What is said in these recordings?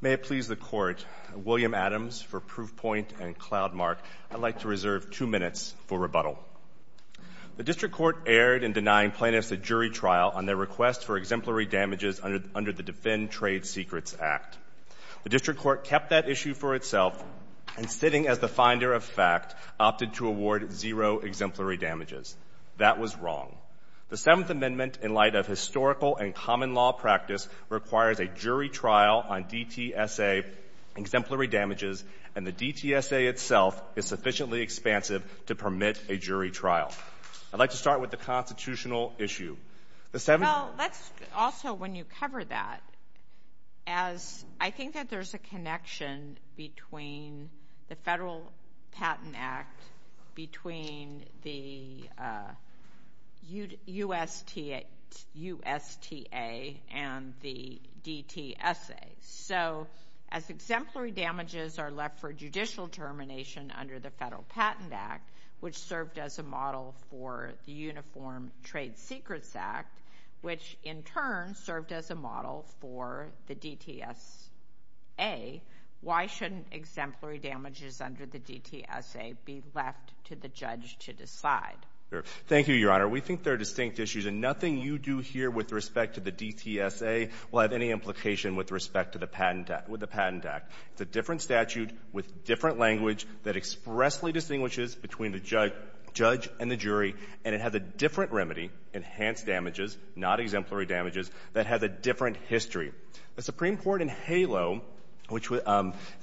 May it please the Court, William Adams for Proofpoint and Cloudmark, I'd like to reserve two minutes for rebuttal. The District Court erred in denying plaintiffs a jury trial on their request for exemplary damages under the Defend Trade Secrets Act. The District Court kept that issue for itself and, sitting as the finder of fact, opted to award zero exemplary damages. That was wrong. The Seventh Amendment, in light of historical and common law practice, requires a jury trial on DTSA exemplary damages, and the DTSA itself is sufficiently expansive to permit a jury trial. I'd like to start with the constitutional issue. The Seventh Amendment... Well, let's also, when you cover that, as I think that there's a connection between the Federal Patent Act between the USTA and the DTSA. So as exemplary damages are left for judicial termination under the Federal Patent Act, which served as a model for the Uniform Trade Secrets Act, which in turn served as a model for the DTSA, why shouldn't exemplary damages under the DTSA be left to the judge to decide? Thank you, Your Honor. We think they're distinct issues, and nothing you do here with respect to the DTSA will have any implication with respect to the Patent Act. It's a different statute with different language that expressly distinguishes between the judge and the jury, and it has a different remedy, enhanced damages, not exemplary damages, that has a different history. The Supreme Court in HALO, which would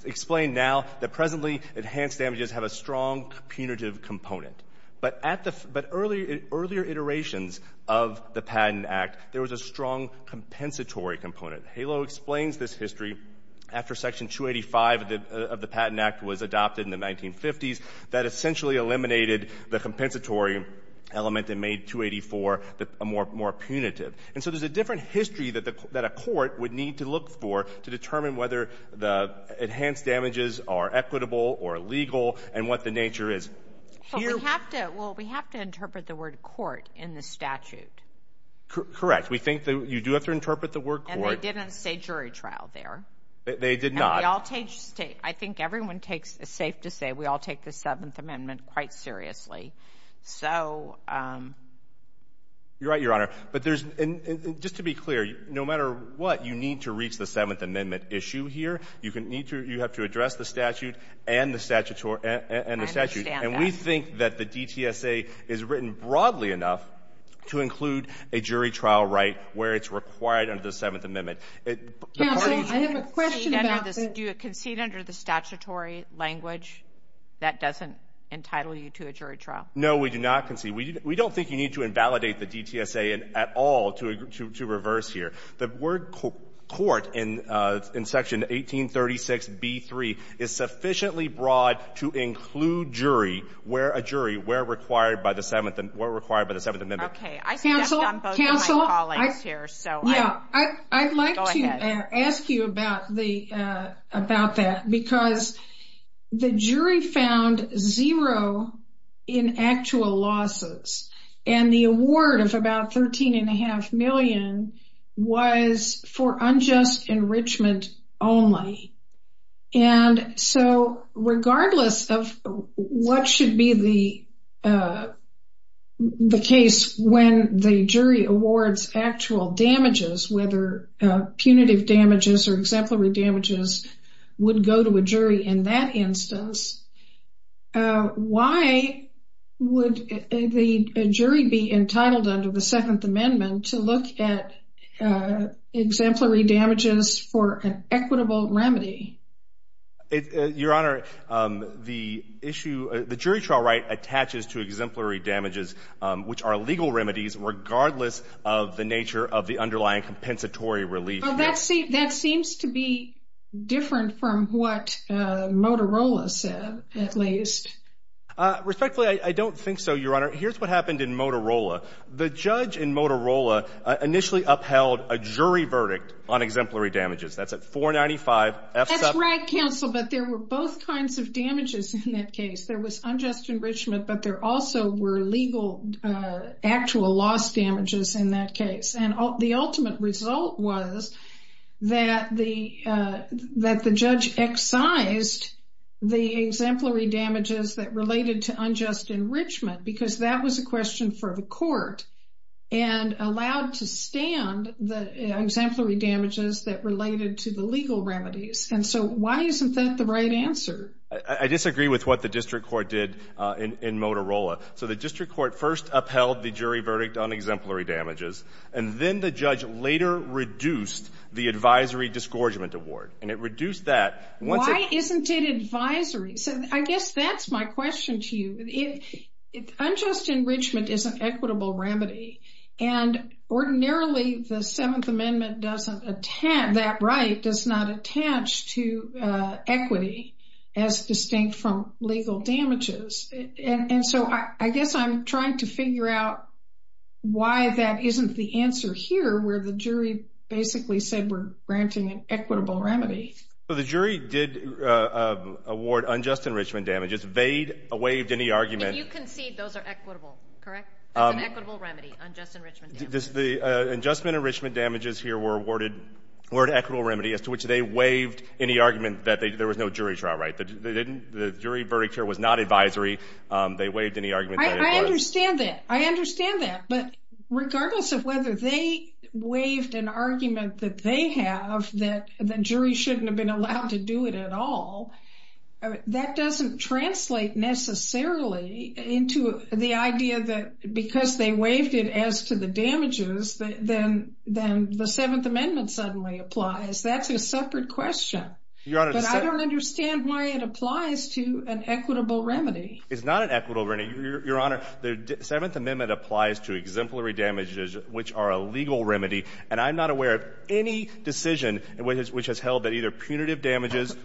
explain now that presently enhanced damages have a strong punitive component. But at the — but earlier iterations of the Patent Act, there was a strong compensatory component. HALO explains this history after Section 285 of the Patent Act was adopted in the 1950s that essentially eliminated the compensatory element and made 284 more punitive. And so there's a different history that a court would need to look for to determine whether the enhanced damages are equitable or illegal and what the nature is. But we have to — well, we have to interpret the word court in the statute. Correct. We think that you do have to interpret the word court. And they didn't say jury trial there. They did not. And we all take — I think everyone takes — it's safe to say we all take the Seventh Amendment quite seriously. So — You're right, Your Honor. But there's — and just to be clear, no matter what, you need to reach the Seventh Amendment issue here. You can need to — you have to address the statute and the statutory — and the statute. I understand that. And we think that the DTSA is written broadly enough to include a jury trial right where it's required under the Seventh Amendment. It — Counsel, I have a question about the — Do you concede under the statutory language that doesn't entitle you to a jury trial? No, we do not concede. We don't think you need to invalidate the DTSA at all to reverse here. The word court in Section 1836b3 is sufficiently broad to include jury where a jury where required by the Seventh — where required by the Seventh Amendment. I stepped on both of my colleagues here, so I'm — Yeah. Go ahead. I wanted to ask you about the — about that, because the jury found zero in actual losses. And the award of about $13.5 million was for unjust enrichment only. And so regardless of what should be the case when the jury awards actual damages, whether punitive damages or exemplary damages, would go to a jury in that instance, why would the jury be entitled under the Second Amendment to look at exemplary damages for an equitable remedy? Your Honor, the issue — the jury trial right attaches to exemplary damages, which are legal compensatory relief. That seems to be different from what Motorola said, at least. Respectfully, I don't think so, Your Honor. Here's what happened in Motorola. The judge in Motorola initially upheld a jury verdict on exemplary damages. That's at $495,000. That's right, counsel, but there were both kinds of damages in that case. There was unjust enrichment, but there also were legal actual loss damages in that case. And the ultimate result was that the judge excised the exemplary damages that related to unjust enrichment, because that was a question for the court, and allowed to stand the exemplary damages that related to the legal remedies. And so why isn't that the right answer? I disagree with what the district court did in Motorola. So the district court first upheld the jury verdict on exemplary damages, and then the judge later reduced the advisory disgorgement award. And it reduced that — Why isn't it advisory? So I guess that's my question to you. Unjust enrichment is an equitable remedy, and ordinarily the Seventh Amendment doesn't — that right does not attach to equity as distinct from legal damages. And so I guess I'm trying to figure out why that isn't the answer here, where the jury basically said we're granting an equitable remedy. So the jury did award unjust enrichment damages. They waived any argument — And you concede those are equitable, correct? It's an equitable remedy, unjust enrichment damages. The adjustment enrichment damages here were awarded — were an equitable remedy as to which they waived any argument that there was no jury trial, right? The jury verdict here was not advisory. They waived any argument that it was. I understand that. I understand that. But regardless of whether they waived an argument that they have that the jury shouldn't have been allowed to do it at all, that doesn't translate necessarily into the idea that because they waived it as to the damages, then the Seventh Amendment suddenly applies. That's a separate question. Your Honor — But I don't understand why it applies to an equitable remedy. It's not an equitable remedy, Your Honor. The Seventh Amendment applies to exemplary damages, which are a legal remedy. And I'm not aware of any decision which has held that either punitive damages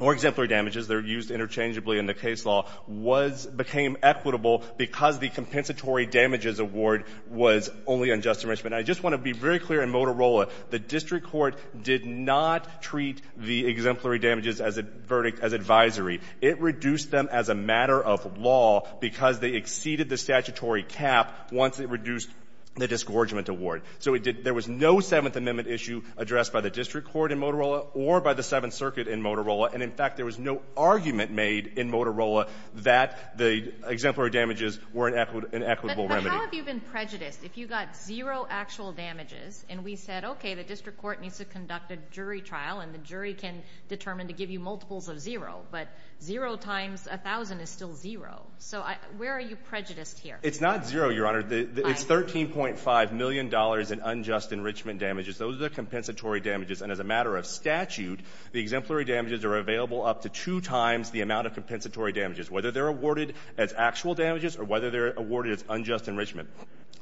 or exemplary damages that are used interchangeably in the case law was — became equitable because the compensatory damages award was only unjust enrichment. I just want to be very clear in Motorola. The district court did not treat the exemplary damages as a verdict — as advisory. It reduced them as a matter of law because they exceeded the statutory cap once it reduced the disgorgement award. So it did — there was no Seventh Amendment issue addressed by the district court in Motorola or by the Seventh Circuit in Motorola. And, in fact, there was no argument made in Motorola that the exemplary damages were an equitable remedy. But how have you been prejudiced? If you got zero actual damages and we said, OK, the district court needs to conduct a jury trial and the jury can determine to give you multiples of zero, but zero times a thousand is still zero. So where are you prejudiced here? It's not zero, Your Honor. It's $13.5 million in unjust enrichment damages. Those are the compensatory damages. And as a matter of statute, the exemplary damages are available up to two times the amount of compensatory damages, whether they're awarded as actual damages or whether they're awarded as unjust enrichment.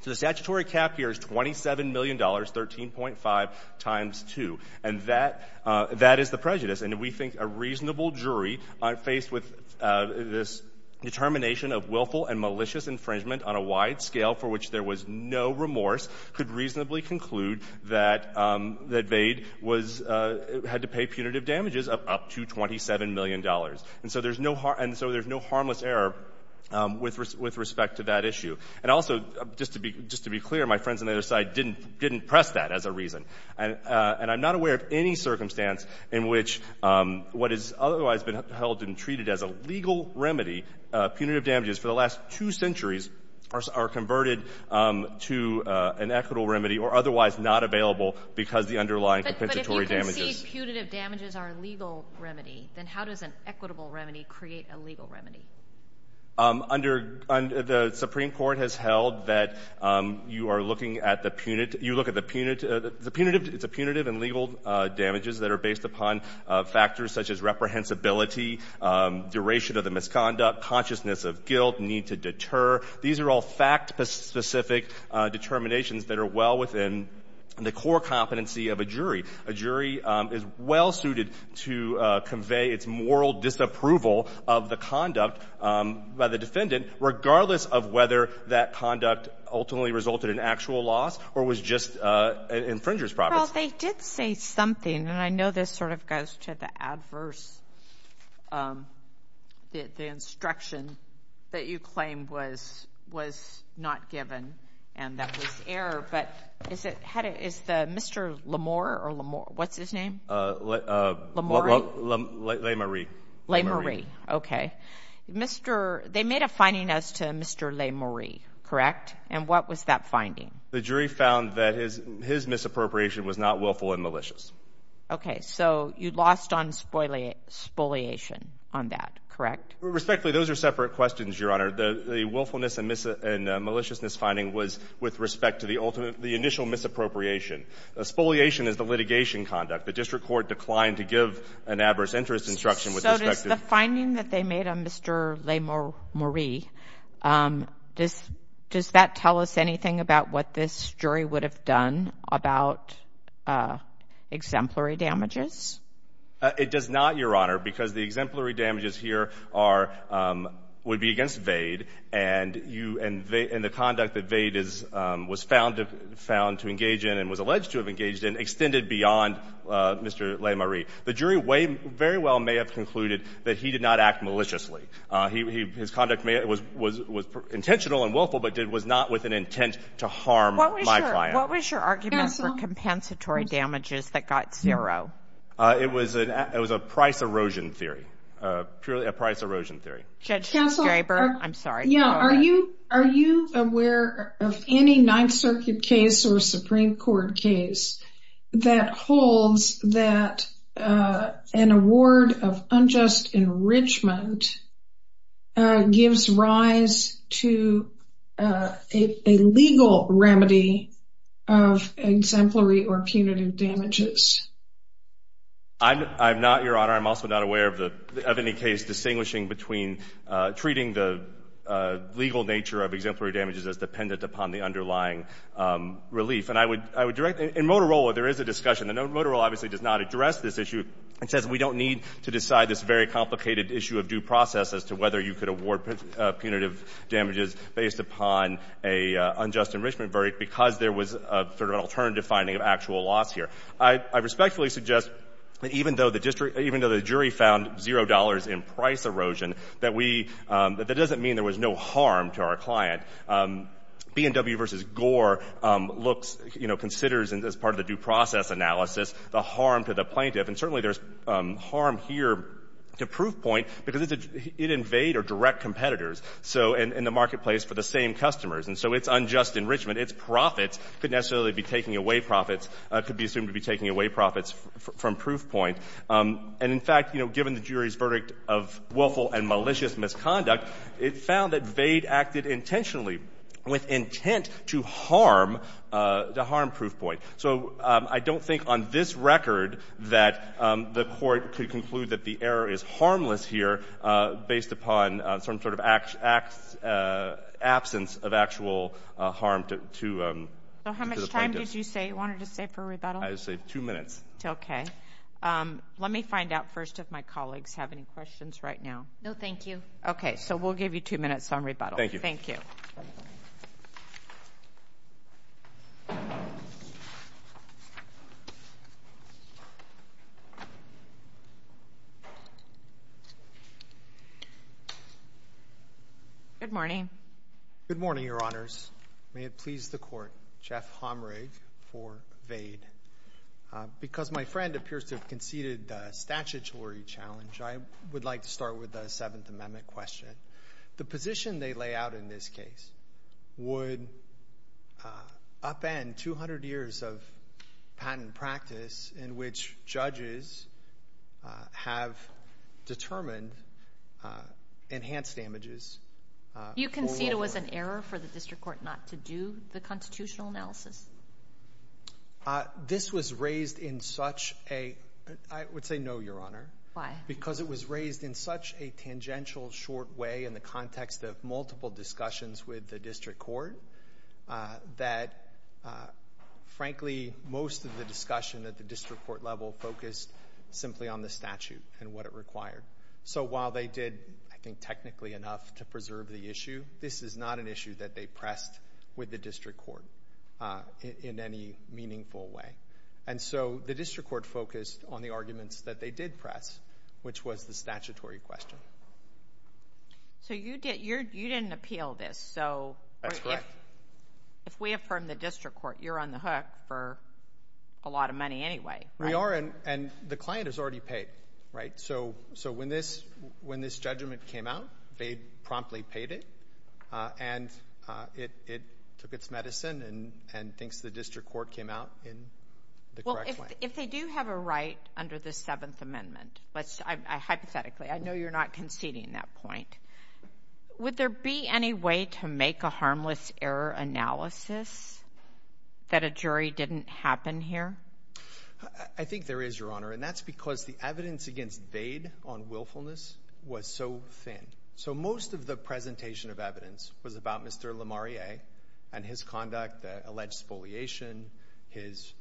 So the statutory cap here is $27 million, 13.5 times two. And that — that is the prejudice. And we think a reasonable jury, faced with this determination of willful and malicious infringement on a wide scale for which there was no remorse, could reasonably conclude that — that Vade was — had to pay punitive damages of up to $27 million. And so there's no — and so there's no harmless error with respect to that issue. And also, just to be — just to be clear, my friends on the other side didn't — didn't press that as a reason. And I'm not aware of any circumstance in which what has otherwise been held and treated as a legal remedy, punitive damages for the last two centuries are converted to an equitable remedy or otherwise not available because the underlying compensatory damages. But if you can see punitive damages are a legal remedy, then how does an equitable remedy create a legal remedy? Under — the Supreme Court has held that you are looking at the — you look at the — the punitive — it's a punitive and legal damages that are based upon factors such as reprehensibility, duration of the misconduct, consciousness of guilt, need to deter. These are all fact-specific determinations that are well within the core competency of a jury. A jury is well-suited to convey its moral disapproval of the conduct by the defendant regardless of whether that conduct ultimately resulted in actual loss or was just an infringer's profits. Well, they did say something, and I know this sort of goes to the adverse — the instruction that you claim was not given and that was error. But is it — how did — is the — Mr. Lamour or Lamour? What's his name? Lamour? Le-Marie. Le-Marie. Okay. Mr. — they made a finding as to Mr. Le-Marie, correct? And what was that finding? The jury found that his misappropriation was not willful and malicious. Okay. So you lost on spoliation on that, correct? Respectfully, those are separate questions, Your Honor. The willfulness and maliciousness finding was with respect to the ultimate — the initial misappropriation. Spoliation is the litigation conduct. The district court declined to give an adverse interest instruction with respect to — So does the finding that they made on Mr. Le-Marie, does that tell us anything about what this jury would have done about exemplary damages? It does not, Your Honor, because the exemplary damages here are — would be against Vade, and you — and the conduct that Vade is — was found to engage in and was alleged to have engaged in extended beyond Mr. Le-Marie. The jury very well may have concluded that he did not act maliciously. His conduct was intentional and willful, but was not with an intent to harm my client. What was your argument for compensatory damages that got zero? It was a price erosion theory, purely a price erosion theory. Judge Gerry Berg, I'm sorry. Are you aware of any Ninth Circuit case or Supreme Court case that holds that an award of unjust enrichment gives rise to a legal remedy of exemplary or punitive damages? I'm not, Your Honor. I'm also not aware of any case distinguishing between treating the legal nature of exemplary damages as dependent upon the underlying relief. And I would direct — in Motorola, there is a discussion. And Motorola obviously does not address this issue. It says we don't need to decide this very complicated issue of due process as to whether you could award punitive damages based upon an unjust enrichment verdict because there was sort of an alternative finding of actual loss here. I respectfully suggest that even though the district — even though the jury found $0 in price erosion, that we — that doesn't mean there was no harm to our client. B&W v. Gore looks — you know, considers as part of the due process analysis the harm to the plaintiff. And certainly there's harm here to Proofpoint because it invades or directs competitors in the marketplace for the same customers. And so its unjust enrichment, its profits, could necessarily be taking away profits — could be assumed to be taking away profits from Proofpoint. And in fact, you know, given the jury's verdict of willful and malicious misconduct, it found that Vade acted intentionally with intent to harm Proofpoint. So I don't think on this record that the court could conclude that the error is harmless here based upon some sort of absence of actual harm to the plaintiff. So how much time did you say you wanted to save for rebuttal? I just saved two minutes. Okay. Let me find out first if my colleagues have any questions right now. No, thank you. Okay. So we'll give you two minutes on rebuttal. Thank you. Good morning. Good morning, Your Honors. May it please the Court, Jeff Homrig for Vade. Because my friend appears to have conceded a statutory challenge, I would like to start with a Seventh Amendment question. The position they lay out in this case would upend 200 years of patent practice in which judges have determined enhanced damages. You concede it was an error for the district court not to do the constitutional analysis? This was raised in such a — I would say no, Your Honor. Why? Because it was raised in such a tangential, short way in the context of multiple discussions with the district court that, frankly, most of the discussion at the district court level focused simply on the statute and what it required. So while they did, I think, technically enough to preserve the issue, this is not an issue that they pressed with the district court in any meaningful way. And so the district court focused on the arguments that they did press, which was the statutory question. So you didn't appeal this. That's correct. If we affirm the district court, you're on the hook for a lot of money anyway, right? We are, and the client has already paid, right? So when this judgment came out, Vade promptly paid it, and it took its medicine and thinks the district court came out in the correct way. Well, if they do have a right under the Seventh Amendment, hypothetically, I know you're not conceding that point, would there be any way to make a harmless error analysis that a jury didn't happen here? I think there is, Your Honor, and that's because the evidence against Vade on willfulness was so thin. So most of the presentation of evidence was about Mr. Lemarié and his conduct, alleged spoliation, his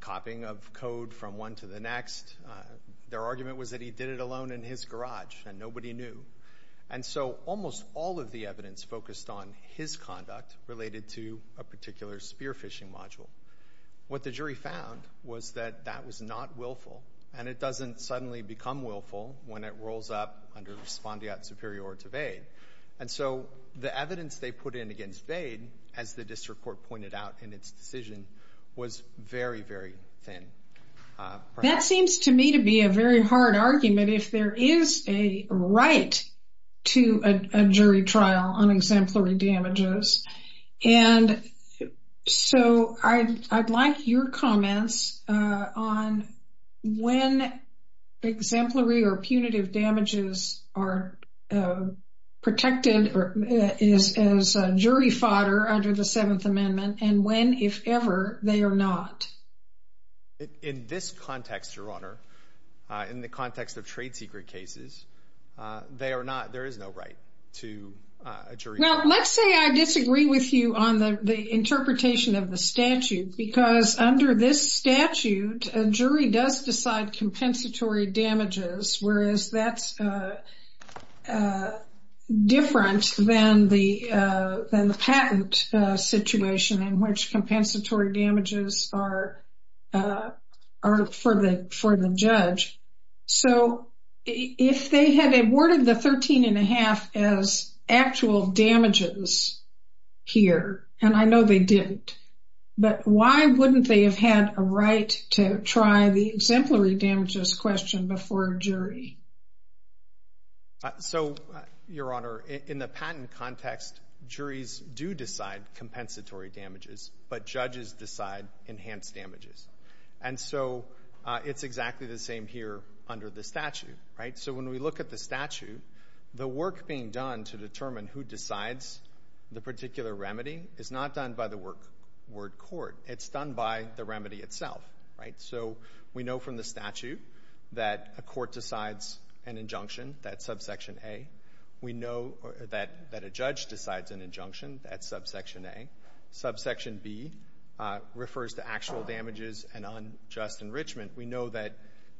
copying of code from one to the next. Their argument was that he did it alone in his garage and nobody knew. And so almost all of the evidence focused on his conduct related to a particular spear phishing module. What the jury found was that that was not willful, and it doesn't suddenly become willful when it rolls up under respondeat superior to Vade. And so the evidence they put in against Vade, as the district court pointed out in its decision, was very, very thin. That seems to me to be a very hard argument if there is a right to a jury trial on exemplary damages. And so I'd like your comments on when exemplary or punitive damages are protected or is jury fodder under the Seventh Amendment and when, if ever, they are not. In this context, Your Honor, in the context of trade secret cases, there is no right to a jury trial. Well, let's say I disagree with you on the interpretation of the statute because under this statute, a jury does decide compensatory damages, whereas that's different than the patent situation in which compensatory damages are for the judge. So if they had awarded the 13 1⁄2 as actual damages here, and I know they didn't, but why wouldn't they have had a right to try the exemplary damages question before a jury? So, Your Honor, in the patent context, juries do decide compensatory damages, but judges decide enhanced damages. And so it's exactly the same here under the statute. So when we look at the statute, the work being done to determine who decides the particular remedy is not done by the word court. It's done by the remedy itself. So we know from the statute that a court decides an injunction. That's subsection A. We know that a judge decides an injunction. That's subsection A. Subsection B refers to actual damages and unjust enrichment. We know that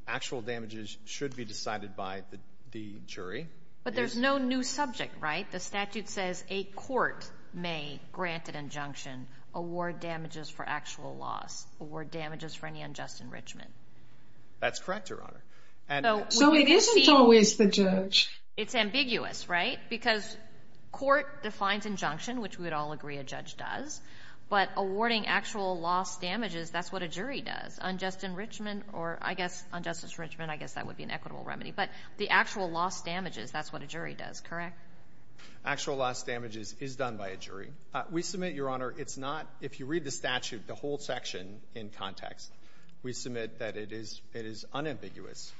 actual damages should be decided by the jury. But there's no new subject, right? The statute says a court may grant an injunction, award damages for actual loss, award damages for any unjust enrichment. That's correct, Your Honor. So it isn't always the judge. It's ambiguous, right? Because court defines injunction, which we would all agree a judge does. But awarding actual loss damages, that's what a jury does. Unjust enrichment or, I guess, unjust enrichment, I guess that would be an equitable remedy. But the actual loss damages, that's what a jury does, correct? Actual loss damages is done by a jury. We submit, Your Honor, it's not, if you read the statute, the whole section in context, we submit that it is unambiguous.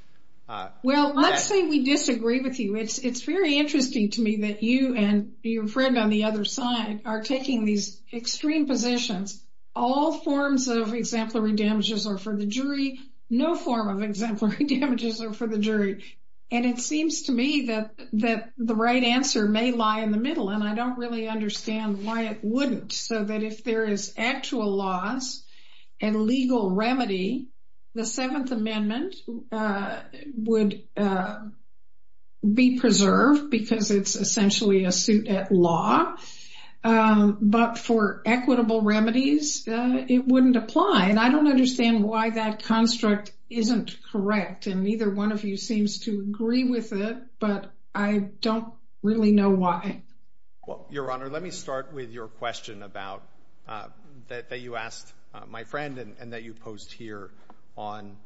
Well, let's say we disagree with you. It's very interesting to me that you and your friend on the other side are taking these extreme positions. All forms of exemplary damages are for the jury. No form of exemplary damages are for the jury. And it seems to me that the right answer may lie in the middle, and I don't really understand why it wouldn't. So that if there is actual loss and legal remedy, the Seventh Amendment would be preserved because it's essentially a suit at law. But for equitable remedies, it wouldn't apply. And I don't understand why that construct isn't correct. And neither one of you seems to agree with it, but I don't really know why. Well, Your Honor, let me start with your question about that you asked my friend and that you posed here on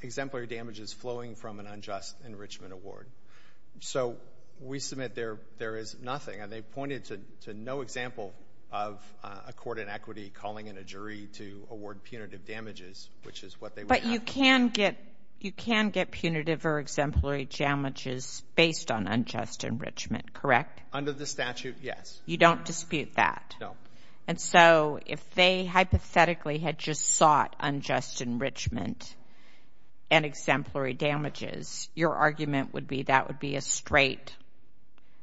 exemplary damages flowing from an unjust enrichment award. So we submit there is nothing, and they pointed to no example of a court in equity calling in a jury to award punitive damages, which is what they would have. But you can get punitive or exemplary damages based on unjust enrichment, correct? Under the statute, yes. You don't dispute that? No. And so if they hypothetically had just sought unjust enrichment and exemplary damages, your argument would be that would be a straight?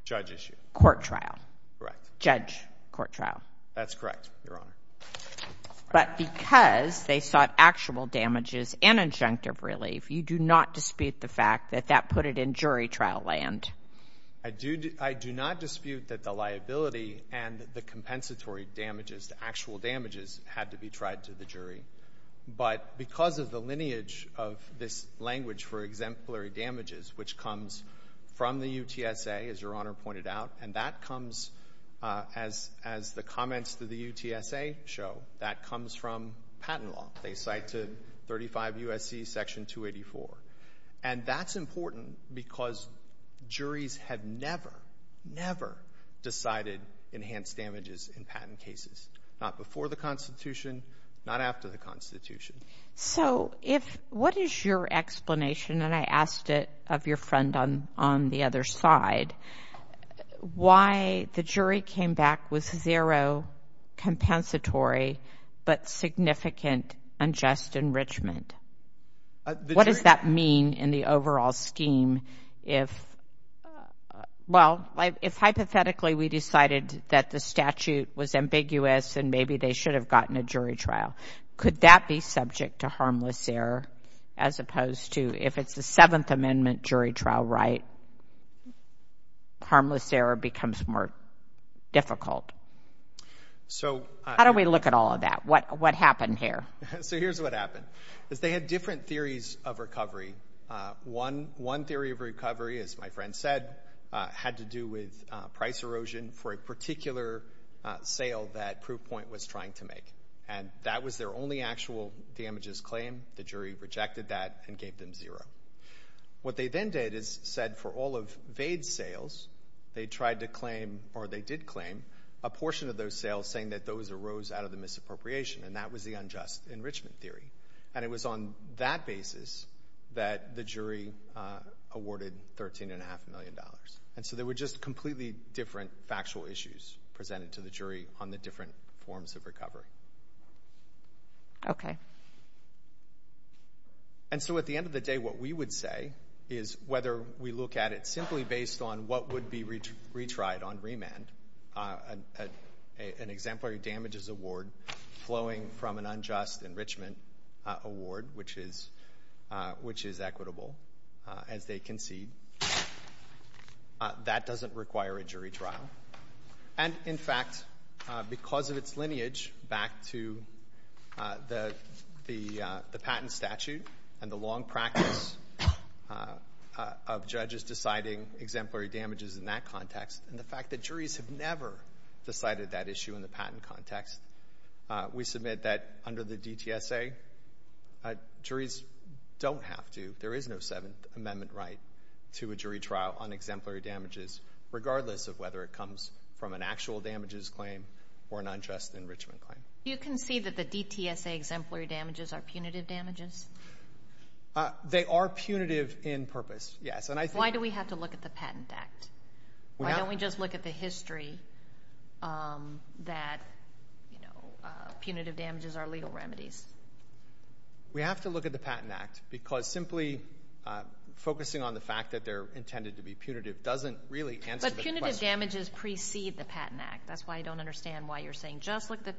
Judge issue. Court trial. Correct. Judge court trial. That's correct, Your Honor. But because they sought actual damages and injunctive relief, you do not dispute the fact that that put it in jury trial land? I do not dispute that the liability and the compensatory damages, the actual damages, had to be tried to the jury. But because of the lineage of this language for exemplary damages, which comes from the UTSA, as Your Honor pointed out, and that comes as the comments to the UTSA show, that comes from patent law. They cite to 35 U.S.C. Section 284. And that's important because juries have never, never decided enhanced damages in patent cases, not before the Constitution, not after the So if what is your explanation, and I asked it of your friend on the other side, why the jury came back with zero compensatory but significant unjust enrichment? What does that mean in the overall scheme if, well, if hypothetically we decided that the statute was ambiguous and maybe they should have gotten a jury trial, could that be subject to harmless error as opposed to if it's the Seventh Amendment jury trial right, harmless error becomes more difficult? So How do we look at all of that? What happened here? So here's what happened, is they had different theories of recovery. One theory of recovery, as my friend said, had to do with price erosion for a particular sale that Proofpoint was trying to make. And that was their only actual damages claim. The jury rejected that and gave them zero. What they then did is said for all of Vade's sales, they tried to claim, or they did claim, a portion of those sales saying that those arose out of the misappropriation, and that was the unjust enrichment theory. And it was on that basis that the jury awarded $13.5 million. And so there were just completely different factual issues presented to the jury on the different forms of recovery. Okay. And so at the end of the day, what we would say is whether we look at it from an unjust enrichment award, which is equitable, as they concede, that doesn't require a jury trial. And, in fact, because of its lineage back to the patent statute and the long practice of judges deciding exemplary damages in that context, and the fact that juries have never decided that issue in the patent context, we submit that under the DTSA, juries don't have to. There is no Seventh Amendment right to a jury trial on exemplary damages, regardless of whether it comes from an actual damages claim or an unjust enrichment claim. You concede that the DTSA exemplary damages are punitive damages? They are punitive in purpose, yes. Why do we have to look at the Patent Act? Why don't we just look at the history that punitive damages are legal remedies? We have to look at the Patent Act because simply focusing on the fact that they're intended to be punitive doesn't really answer the question. But punitive damages precede the Patent Act. That's why I don't understand why you're saying just look the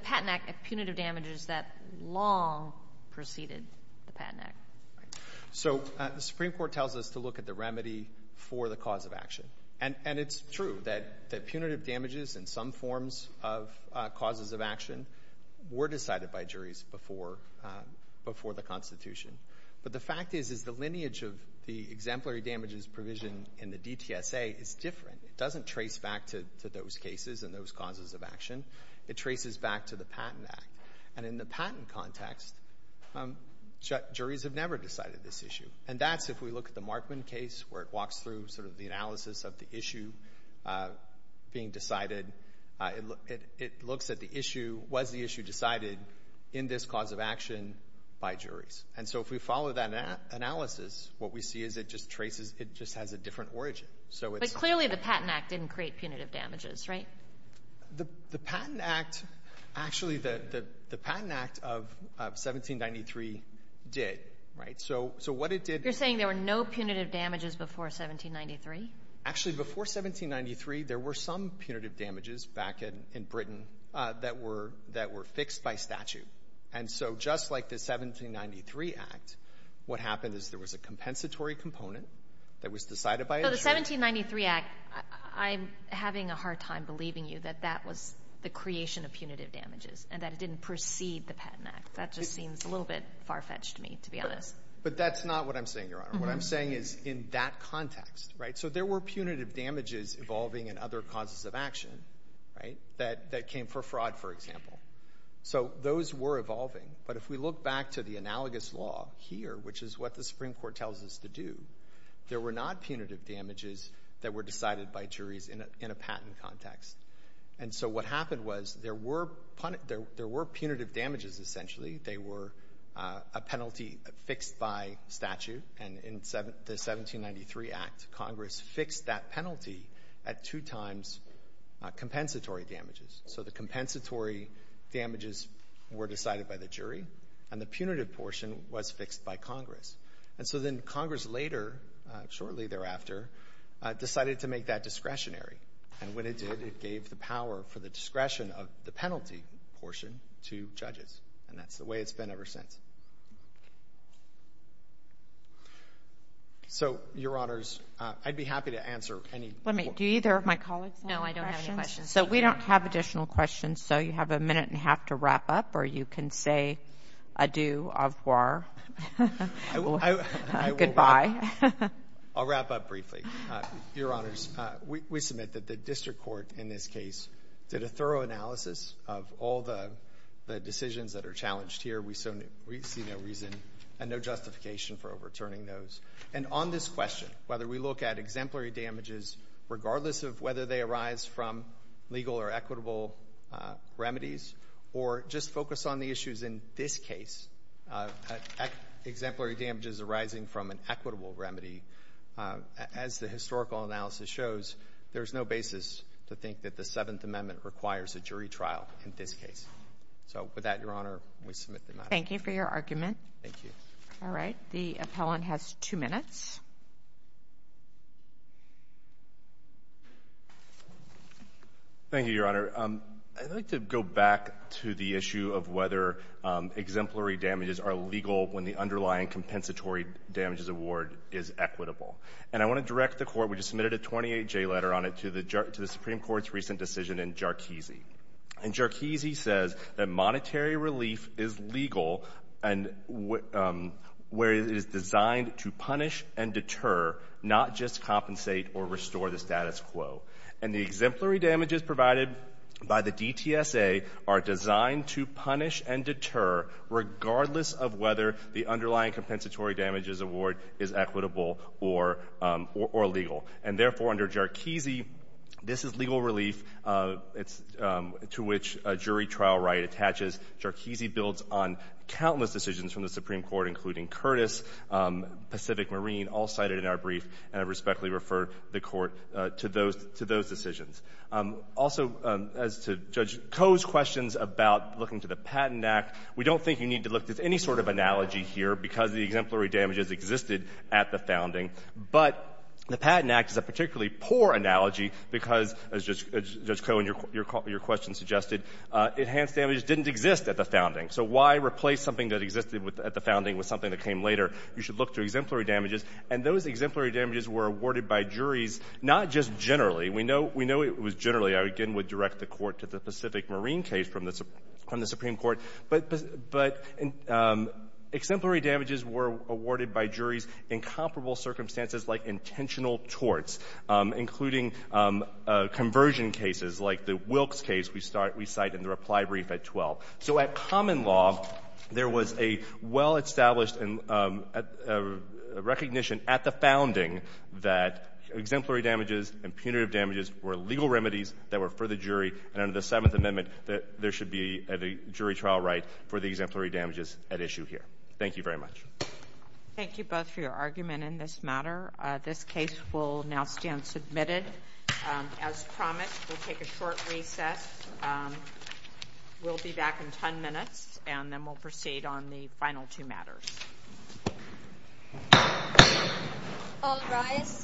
Patent Act at punitive damages that long preceded the Patent Act. The Supreme Court tells us to look at the remedy for the cause of action, and it's true that punitive damages and some forms of causes of action were decided by juries before the Constitution. But the fact is the lineage of the exemplary damages provision in the DTSA is different. It doesn't trace back to those cases and those causes of action. It traces back to the Patent Act. And in the patent context, juries have never decided this issue. And that's if we look at the Markman case where it walks through sort of the analysis of the issue being decided. It looks at the issue, was the issue decided in this cause of action by juries. And so if we follow that analysis, what we see is it just has a different origin. But clearly the Patent Act didn't create punitive damages, right? The Patent Act, actually, the Patent Act of 1793 did, right? So what it did was You're saying there were no punitive damages before 1793? Actually, before 1793, there were some punitive damages back in Britain that were fixed by statute. And so just like the 1793 Act, what happened is there was a compensatory component that was decided by a jury. The 1793 Act, I'm having a hard time believing you that that was the creation of punitive damages and that it didn't precede the Patent Act. That just seems a little bit far-fetched to me, to be honest. But that's not what I'm saying, Your Honor. What I'm saying is in that context, right? So there were punitive damages evolving in other causes of action, right, that came for fraud, for example. So those were evolving. But if we look back to the analogous law here, which is what the Supreme Court tells us to do, there were not punitive damages that were decided by juries in a patent context. And so what happened was there were punitive damages, essentially. They were a penalty fixed by statute. And in the 1793 Act, Congress fixed that penalty at two times compensatory damages. So the compensatory damages were decided by the jury, and the punitive portion was fixed by Congress. And so then Congress later, shortly thereafter, decided to make that discretionary. And when it did, it gave the power for the discretion of the penalty portion to judges. And that's the way it's been ever since. So, Your Honors, I'd be happy to answer any questions. Do either of my colleagues have any questions? No, I don't have any questions. So we don't have additional questions. So you have a minute and a half to wrap up, or you can say adieu, au revoir. Goodbye. I'll wrap up briefly. Your Honors, we submit that the district court in this case did a thorough analysis of all the decisions that are challenged here. We see no reason and no justification for overturning those. And on this question, whether we look at exemplary damages, regardless of whether they arise from legal or equitable remedies, or just focus on the issues in this case, exemplary damages arising from an equitable remedy, as the historical analysis shows, there's no basis to think that the Seventh Amendment requires a jury trial in this case. So with that, Your Honor, we submit the matter. Thank you for your argument. Thank you. All right. The appellant has two minutes. Thank you, Your Honor. I'd like to go back to the issue of whether exemplary damages are legal when the underlying compensatory damages award is equitable. And I want to direct the Court, we just submitted a 28-J letter on it, to the Supreme Court's recent decision in Jarchese. And Jarchese says that monetary relief is legal where it is designed to punish and deter, not just compensate or restore the status quo. And the exemplary damages provided by the DTSA are designed to punish and deter regardless of whether the underlying compensatory damages award is equitable or legal. And therefore, under Jarchese, this is legal relief to which a jury trial right attaches. Jarchese builds on countless decisions from the Supreme Court, including Curtis, Pacific Marine, all cited in our brief. And I respectfully refer the Court to those decisions. Also, as to Judge Koh's questions about looking to the Patent Act, we don't think you need to look at any sort of analogy here because the exemplary damages existed at the founding. But the Patent Act is a particularly poor analogy because, as Judge Koh and your question suggested, enhanced damages didn't exist at the founding. So why replace something that existed at the founding with something that came later? You should look to exemplary damages. And those exemplary damages were awarded by juries not just generally. We know it was generally. I, again, would direct the Court to the Pacific Marine case from the Supreme Court. But exemplary damages were awarded by juries in comparable circumstances like intentional torts, including conversion cases like the Wilkes case we cite in the reply brief at 12. So at common law, there was a well-established recognition at the founding that exemplary damages and punitive damages were legal remedies that were for the jury. And under the Seventh Amendment, there should be a jury trial right for the exemplary damages at issue here. Thank you very much. Thank you both for your argument in this matter. This case will now stand submitted. As promised, we'll take a short recess. We'll be back in 10 minutes, and then we'll proceed on the final two matters.